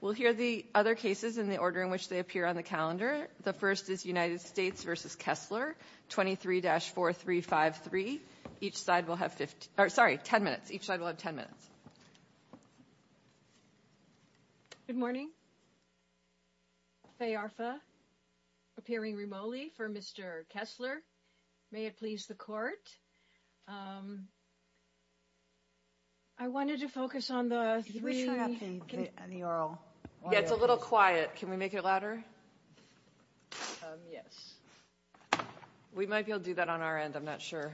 We'll hear the other cases in the order in which they appear on the calendar. The first is United States v. Kessler, 23-4353. Each side will have 10 minutes. Good morning. Faye Arfa, appearing remotely for Mr. Kessler. May it please the court. I wanted to focus on the three... He was showing up in the oral. Yeah, it's a little quiet. Can we make it louder? Yes. We might be able to do that on our end. I'm not sure.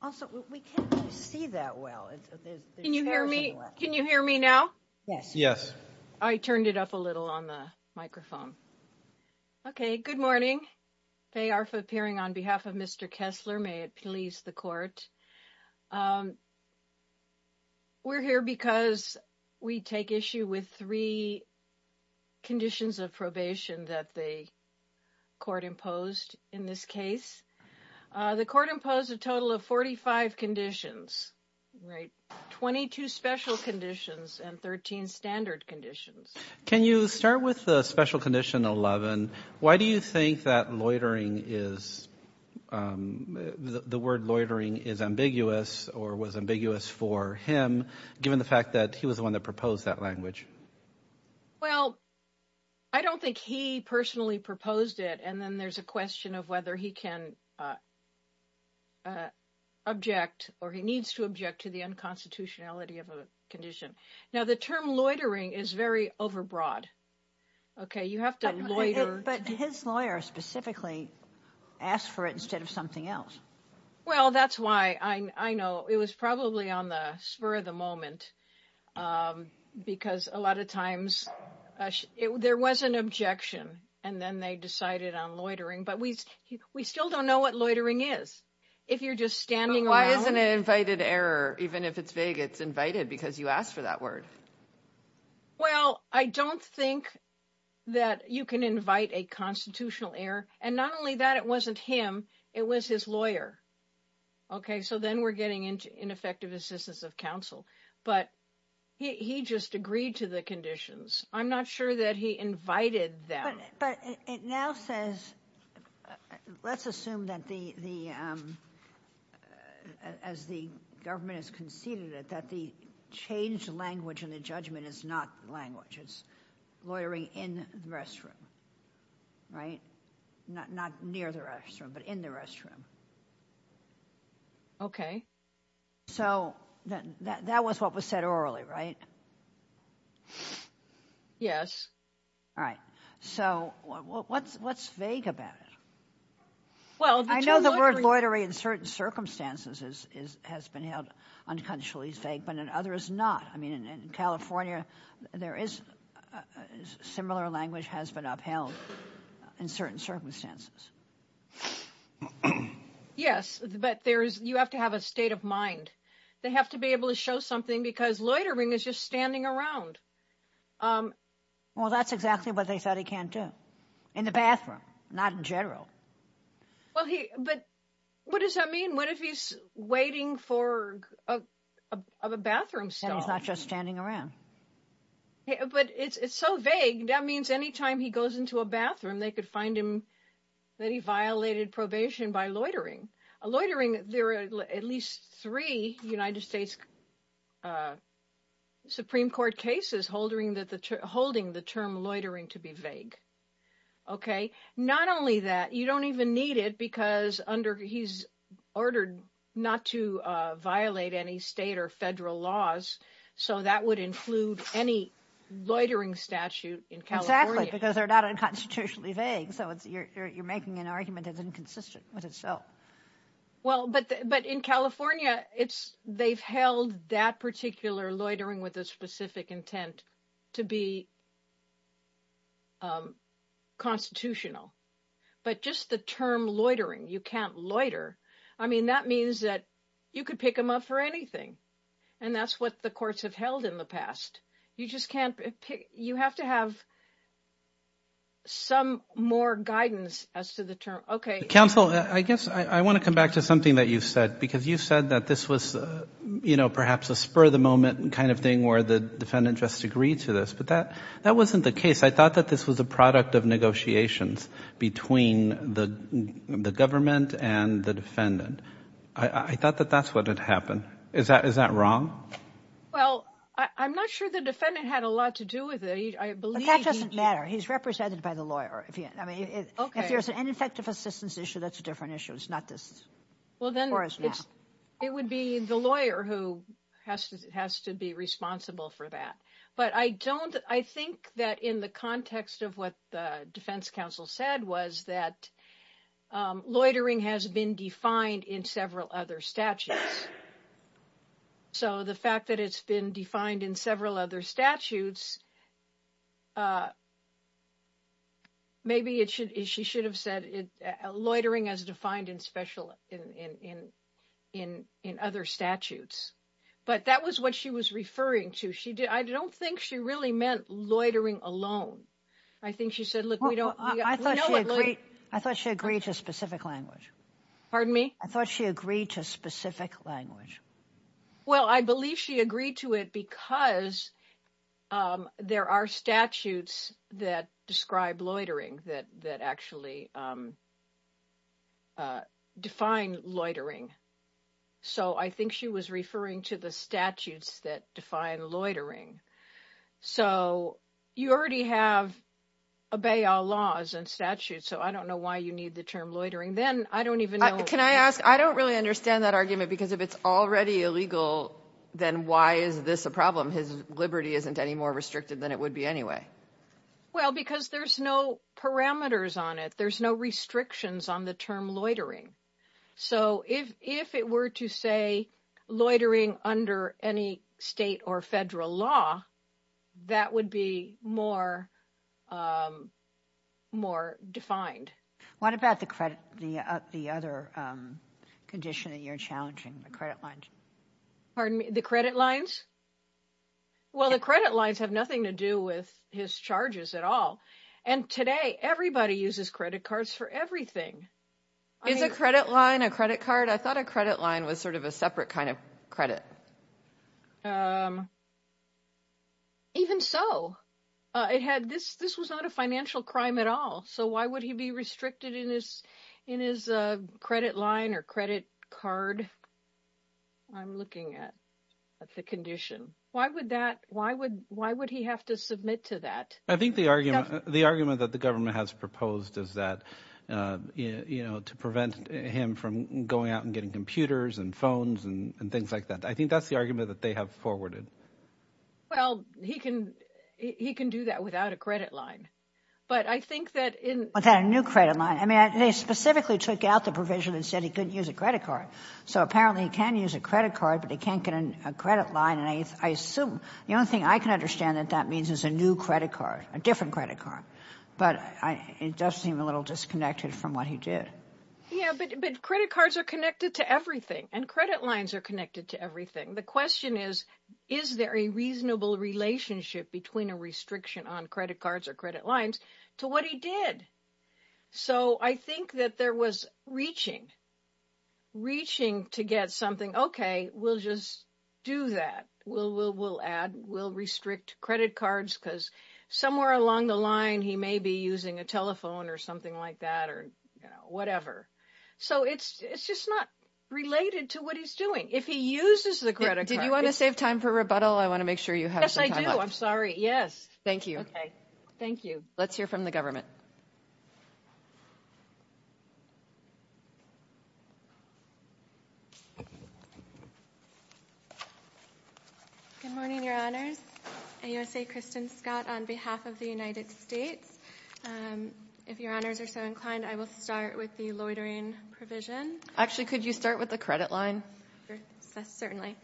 Also, we can't really see that well. Can you hear me now? Yes. I turned it up a little on the microphone. Okay. Good morning. Faye Arfa, appearing on behalf of Mr. Kessler. May it please the court. We're here because we take issue with three conditions of probation that the court imposed in this case. The court imposed a total of 45 conditions, right? 22 special conditions and 13 standard conditions. Can you start with the special condition 11? Why do you think that the word loitering is ambiguous or was ambiguous for him, given the fact that he was the one that proposed that language? Well, I don't think he personally proposed it. And then there's a question of whether he can object or he needs to object to the unconstitutionality of a condition. Now, term loitering is very overbroad. Okay. You have to loiter. But his lawyer specifically asked for it instead of something else. Well, that's why I know it was probably on the spur of the moment because a lot of times there was an objection and then they decided on loitering. But we still don't know what loitering is. If you're just standing around. Why isn't it invited error? Even if it's vague, it's invited because you asked for that word. Well, I don't think that you can invite a constitutional error. And not only that, it wasn't him. It was his lawyer. Okay. So then we're getting into ineffective assistance of counsel. But he just agreed to the conditions. I'm not sure that he invited them. But it now says, let's assume that the as the government has conceded that the changed language and the judgment is not language. It's loitering in the restroom, right? Not near the restroom, but in the restroom. Okay. So that was what was said orally, right? Yes. All right. So what's vague about it? Well, I know the word loitering in certain circumstances has been held but in others not. I mean, in California, there is similar language has been upheld in certain circumstances. Yes, but there's you have to have a state of mind. They have to be able to show something because loitering is just standing around. Well, that's exactly what they thought he can do in the bathroom, not in general. Well, he but what does that mean? What if he's waiting for a bathroom? So it's not just standing around. But it's so vague. That means anytime he goes into a bathroom, they could find him that he violated probation by loitering, loitering. There are at least three United States Supreme Court cases holding that the holding the term loitering to be vague. Okay. Not only that, you don't even need it because under he's ordered not to violate any state or federal laws. So that would include any loitering statute in California. Because they're not unconstitutionally vague. So it's you're making an argument that's inconsistent with itself. Well, but but in California, it's they've held that particular loitering with a specific intent to be constitutional. But just the term loitering, you can't loiter. I mean, that means that you could pick them up for anything. And that's what the courts have held in the past. You just can't pick you have to have some more guidance as to the term. Okay. Counsel, I guess I want to come back to something that you've said, because you've said that this was, you know, perhaps a spur of the moment kind of thing where the defendant just agreed to this. But that that wasn't the case. I thought that this was a product of negotiations between the government and the defendant. I thought that that's what had happened. Is that is that wrong? Well, I'm not sure the defendant had a lot to do with it. I believe that doesn't matter. He's represented by the lawyer. I mean, if there's an ineffective assistance issue, that's a different issue. It's not this. Well, then it's it would be the lawyer who has to has to be responsible for that. But I don't I think that in the context of what the defense counsel said was that loitering has been defined in several other statutes. So the fact that it's been defined in several other statutes. Maybe it should she should have said it loitering as defined in special in in in in other statutes. But that was what she was referring to. She did. I don't think she really meant loitering alone. I think she said, look, we don't I thought I thought she agreed to specific language. Pardon me? I thought she agreed to specific language. Well, I believe she agreed to it because there are statutes that describe loitering that that actually define loitering. So I think she was referring to the statutes that define loitering. So you already have obey all laws and statutes. So I don't know why you need the term loitering. Then I don't even know. Can I ask? I don't really understand that argument, because if it's already illegal, then why is this a problem? His liberty isn't any more restricted than it would be anyway. Well, because there's no parameters on it. There's no restrictions on the term loitering. So if if it were to say loitering under any state or federal law, that would be more. More defined. What about the credit, the the other condition that you're challenging the credit lines? Pardon me, the credit lines? Well, the credit lines have nothing to do with his charges at all. And today, everybody uses credit cards for everything. Is a credit line a credit card? I thought a credit line was sort of a separate kind of credit. But. Even so, it had this this was not a financial crime at all. So why would he be restricted in this in his credit line or credit card? I'm looking at the condition. Why would that why would why would he have to submit to that? I think the argument the argument that the government has proposed is that, you know, to prevent him from going out and getting computers and phones and things like that. I think that's the argument that they have forwarded. Well, he can he can do that without a credit line. But I think that in a new credit line, I mean, they specifically took out the provision and said he couldn't use a credit card. So apparently he can use a credit card, but he can't get a credit line. And I assume the only thing I can understand that that means is a new credit card, a different credit card. But it does seem a little disconnected from what he did. Yeah, but credit cards are connected to everything and credit lines are connected to everything. The question is, is there a reasonable relationship between a restriction on credit cards or credit lines to what he did? So I think that there was reaching. Reaching to get something, OK, we'll just do that. We'll we'll we'll add we'll restrict credit cards because somewhere along the line he may be using a telephone or something like that or whatever. So it's it's just not related to what he's doing. If he uses the credit card. Did you want to save time for rebuttal? I want to make sure you have. Yes, I do. I'm sorry. Yes. Thank you. OK, thank you. Let's hear from the government. Good morning, Your Honors. AUSA Kristen Scott on behalf of the United States. And if your honors are so inclined, I will start with the loitering provision. Actually, could you start with the credit line? Certainly.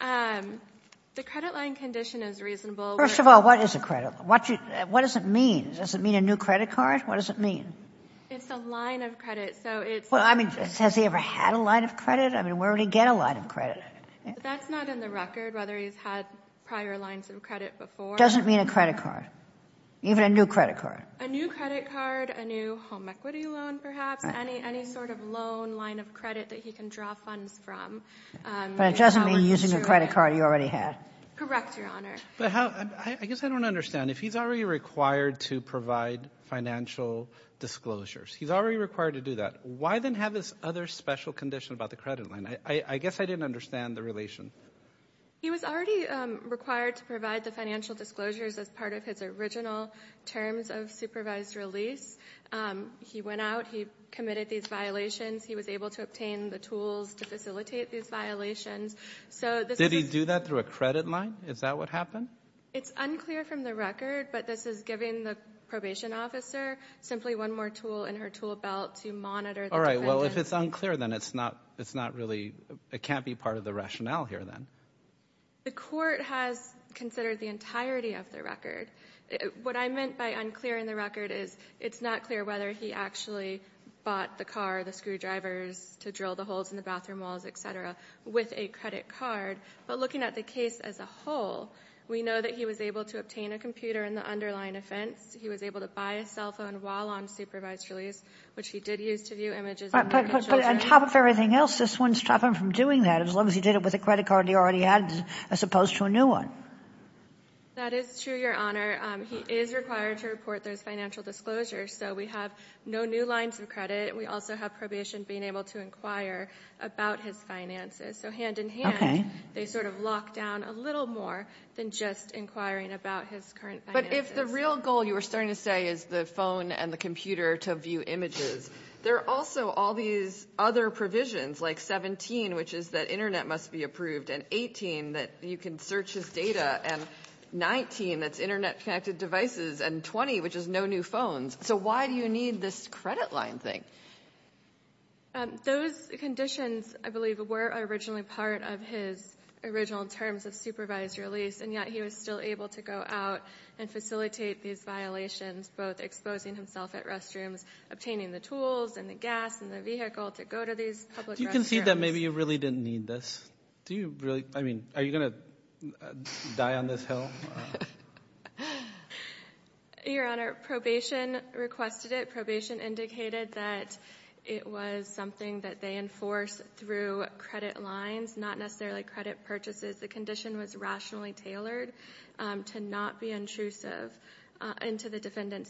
The credit line condition is reasonable. First of all, what is a credit? What what does it mean? Does it mean a new credit card? What does it mean? It's a line of credit. So it's. Well, I mean, has he ever had a line of credit? I mean, where did he get a line of credit? That's not in the record, whether he's had prior lines of credit before. Doesn't mean a credit card, even a new credit card, a new credit card, a new home equity loan, perhaps any any sort of loan line of credit that he can draw funds from. But it doesn't mean using a credit card you already had. Correct, Your Honor. But I guess I don't understand if he's already required to provide financial disclosures, he's already required to do that. Why then have this other special condition about the credit line? I guess I didn't understand the relation. He was already required to provide the financial disclosures as part of his original terms of supervised release. He went out, he committed these violations, he was able to obtain the tools to facilitate these violations. So did he do that through a credit line? Is that what happened? It's unclear from the record, but this is giving the probation officer simply one more tool in her tool belt to monitor. All right, well, if it's unclear, then it's not it's not really it can't be part of the rationale here then. The court has considered the entirety of the record. What I meant by unclear in the record is it's not clear whether he actually bought the car, the screwdrivers to drill the holes in the bathroom walls, etc., with a credit card. But looking at the case as a whole, we know that he was able to obtain a computer in the underlying offense. He was able to buy a cell phone while on supervised release, which he did use to view images. But on top of everything else, this wouldn't stop him from doing that as long as he did it with a credit card he already had, as opposed to a new one. That is true, Your Honor. He is required to report those financial disclosures. So we have no new lines of credit. We also have probation being able to inquire about his finances. So hand in hand, they sort of lock down a little more than just inquiring about his current finances. But if the real goal, you were starting to say, is the phone and the computer to view images, there are also all these other provisions, like 17, which is that internet must be approved, and 18, that you can search his data, and 19, that's internet-connected devices, and 20, which is no new phones. So why do you need this credit line thing? Those conditions, I believe, were originally part of his original terms of supervised release, and yet he was still able to go out and facilitate these violations, both exposing himself at restrooms, obtaining the tools, and the gas, and the vehicle to go to these public restrooms. Do you concede that maybe you really didn't need this? Do you really? I mean, are you going to die on this hill? Your Honor, probation requested it. Probation indicated that it was something that they enforce through credit lines, not necessarily credit purchases. The condition was rationally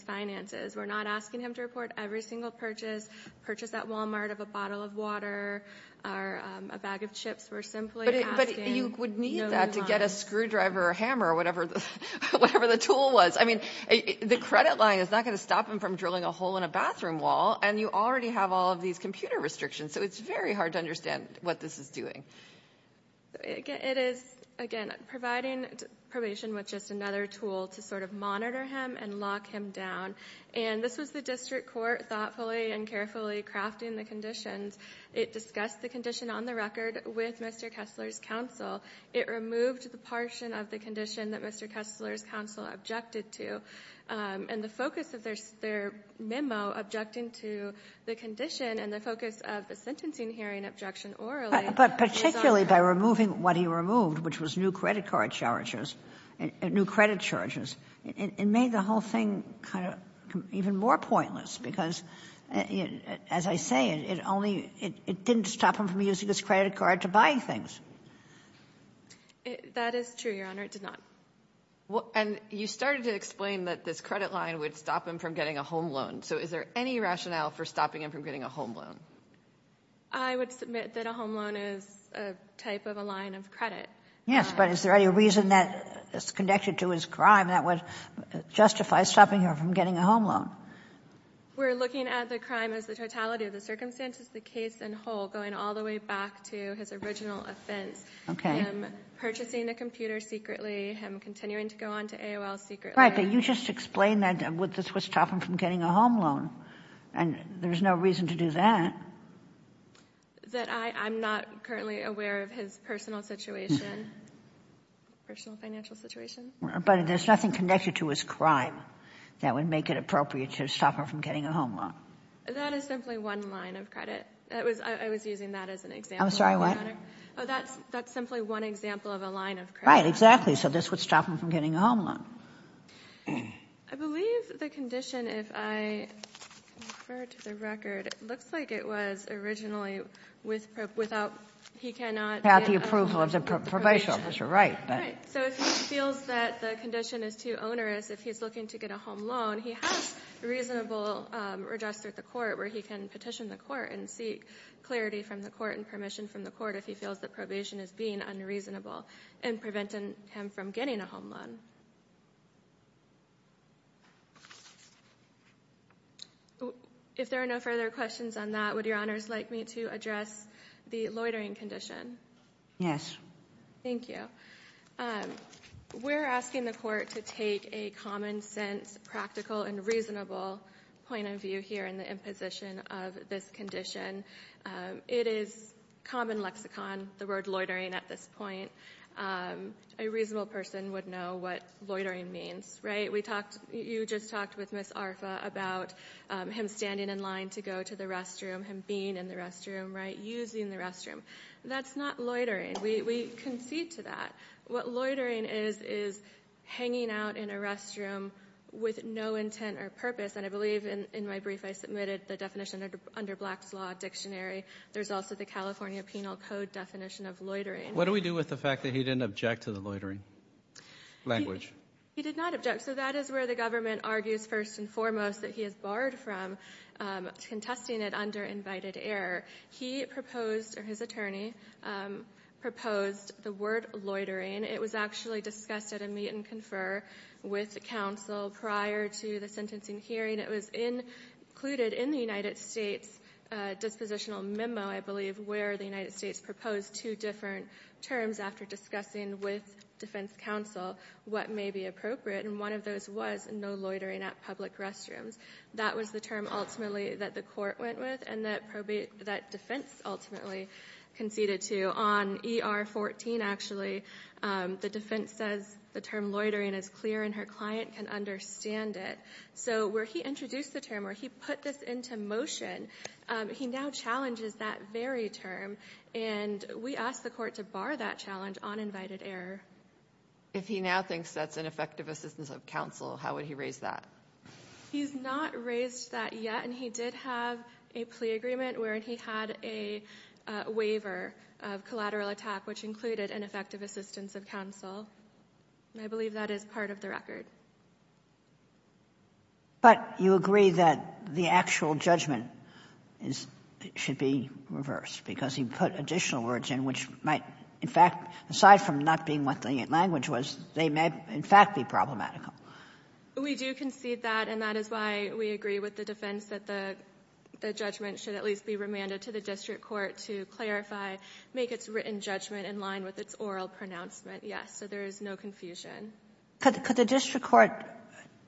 finances. We're not asking him to report every single purchase, purchase that Walmart of a bottle of water, or a bag of chips. We're simply asking. But you would need that to get a screwdriver, or a hammer, or whatever the tool was. I mean, the credit line is not going to stop him from drilling a hole in a bathroom wall, and you already have all of these computer restrictions, so it's very hard to understand what this is doing. It is, again, providing probation with just another tool to sort of And this was the district court thoughtfully and carefully crafting the conditions. It discussed the condition on the record with Mr. Kessler's counsel. It removed the portion of the condition that Mr. Kessler's counsel objected to, and the focus of their memo objecting to the condition, and the focus of the sentencing hearing objection orally. But particularly by removing what he removed, which was new credit card charges, new credit charges, it made the whole thing kind of even more pointless, because as I say, it didn't stop him from using his credit card to buy things. That is true, Your Honor. It did not. And you started to explain that this credit line would stop him from getting a home loan. So is there any rationale for stopping him from getting a home loan? I would submit that a home loan is a type of a line of credit. Yes, but is there any reason that is connected to his crime that would justify stopping her from getting a home loan? We're looking at the crime as the totality of the circumstances, the case in whole, going all the way back to his original offense, him purchasing the computer secretly, him continuing to go on to AOL secretly. Right, but you just explained that this would stop him from getting a home loan, and there's no reason to do that. That I'm not currently aware of his personal situation, personal financial situation. But there's nothing connected to his crime that would make it appropriate to stop her from getting a home loan. That is simply one line of credit. I was using that as an example. I'm sorry, what? Oh, that's simply one example of a line of credit. Right, exactly. So this would stop him from getting a home loan. I believe the condition, if I refer to the record, looks like it was originally without the approval of the probation officer. Right, so if he feels that the condition is too onerous, if he's looking to get a home loan, he has reasonable redress through the court where he can petition the court and seek clarity from the court and permission from the court if he feels the probation is being unreasonable and preventing him from getting a home loan. Okay. If there are no further questions on that, would your honors like me to address the loitering condition? Yes. Thank you. We're asking the court to take a common sense, practical, and reasonable point of view here in the imposition of this condition. It is common lexicon, the word loitering at this point. A reasonable person would know what loitering means, right? You just talked with Ms. Arfa about him standing in line to go to the restroom, him being in the restroom, right, using the restroom. That's not loitering. We concede to that. What loitering is, is hanging out in a restroom with no intent or purpose, and I believe in my brief I submitted the definition under Black's Law Dictionary. There's also the California Penal Code definition of loitering. What do we do with the fact that he didn't object to the loitering language? He did not object, so that is where the government argues first and foremost that he is barred from contesting it under invited error. He proposed, or his attorney, proposed the word loitering. It was actually discussed at a meet and confer with counsel prior to the sentencing hearing. It was included in the United States dispositional memo, I believe, where the United States proposed two different terms after discussing with defense counsel what may be appropriate, and one of those was no loitering at public restrooms. That was the term ultimately that the court went with and that defense ultimately conceded to. On ER 14, actually, the defense says the term loitering is clear and her client can understand it. So where he introduced the term, where he put this into motion, he now challenges that very term, and we asked the court to bar that challenge on invited error. If he now thinks that's an effective assistance of counsel, how would he raise that? He's not raised that yet, and he did have a plea agreement where he had a waiver of collateral attack, which included an effective assistance of counsel, and I believe that is part of the record. But you agree that the actual judgment should be reversed because he put additional words in which might, in fact, aside from not being what the language was, they may in fact be problematical. We do concede that, and that is why we agree with the defense that the judgment should at least be remanded to the district court to clarify, make its written judgment in line with its oral pronouncement. Yes, so there is no confusion. Could the district court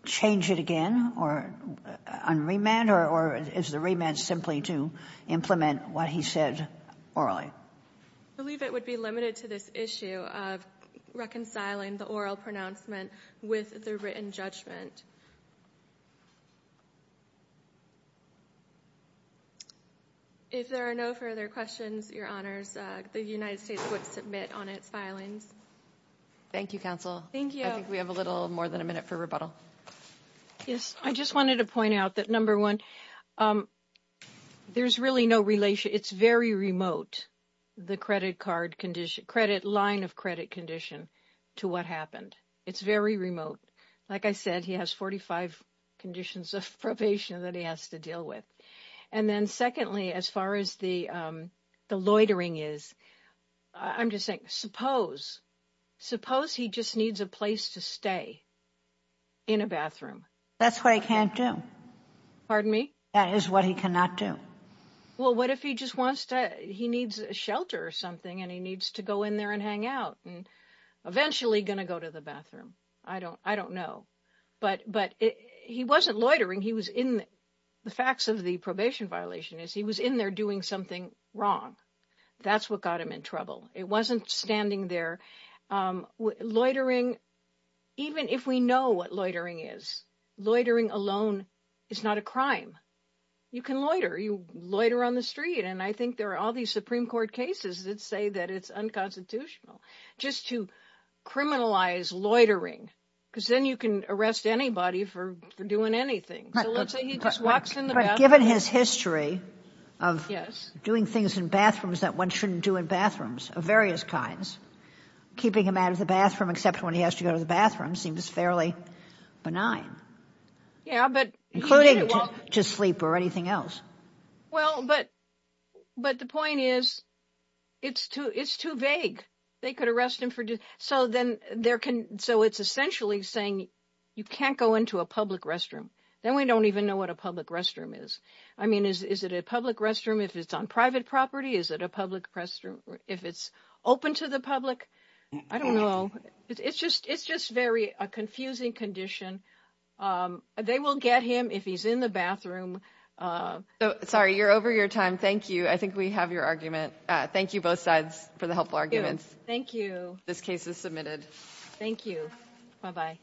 change it again on remand, or is the remand simply to implement what he said orally? I believe it would be limited to this issue of reconciling the oral pronouncement with the written judgment. If there are no further questions, your honors, the United States would submit on its filings. Thank you, counsel. Thank you. I think we have a little more than a minute for rebuttal. Yes, I just wanted to point out that, number one, there's really no relation. It's very remote, the credit card condition, line of credit condition to what happened. It's very remote. Like I said, he has 45 conditions of probation that he has to deal with. And then secondly, as far as the loitering is, I'm just saying, suppose he just needs a place to stay in a bathroom. That's what he can't do. Pardon me? That is what he cannot do. Well, what if he just wants to, he needs a shelter or something, and he needs to go in there and hang out and eventually going to go to the bathroom. I don't know. But he wasn't loitering. He was in, the facts of the probation violation is, he was in there doing something wrong. That's what got him in trouble. It wasn't standing there. Loitering, even if we know what loitering is, loitering alone is not a crime. You can loiter. You loiter on the street. And I think there are all these Supreme Court cases that say that it's unconstitutional just to criminalize loitering, because then you can arrest anybody for doing anything. So let's say he just walks in the bathroom. Given his history of doing things in bathrooms that one shouldn't do in bathrooms of various kinds, keeping him out of the bathroom, except when he has to go to the bathroom, seems fairly benign. Yeah, but including to sleep or anything else. Well, but, but the point is, it's too, it's too vague. They could arrest him for, so then there can, so it's essentially saying you can't go into a public restroom. Then we don't even know what a public restroom is. I mean, is it a public restroom if it's on private property? Is it a public restroom if it's open to the public? I don't know. It's just, it's just very a confusing condition. They will get him if he's in the bathroom. Sorry, you're over your time. Thank you. I think we have your argument. Thank you both sides for the helpful arguments. Thank you. This case is submitted. Thank you. Bye-bye.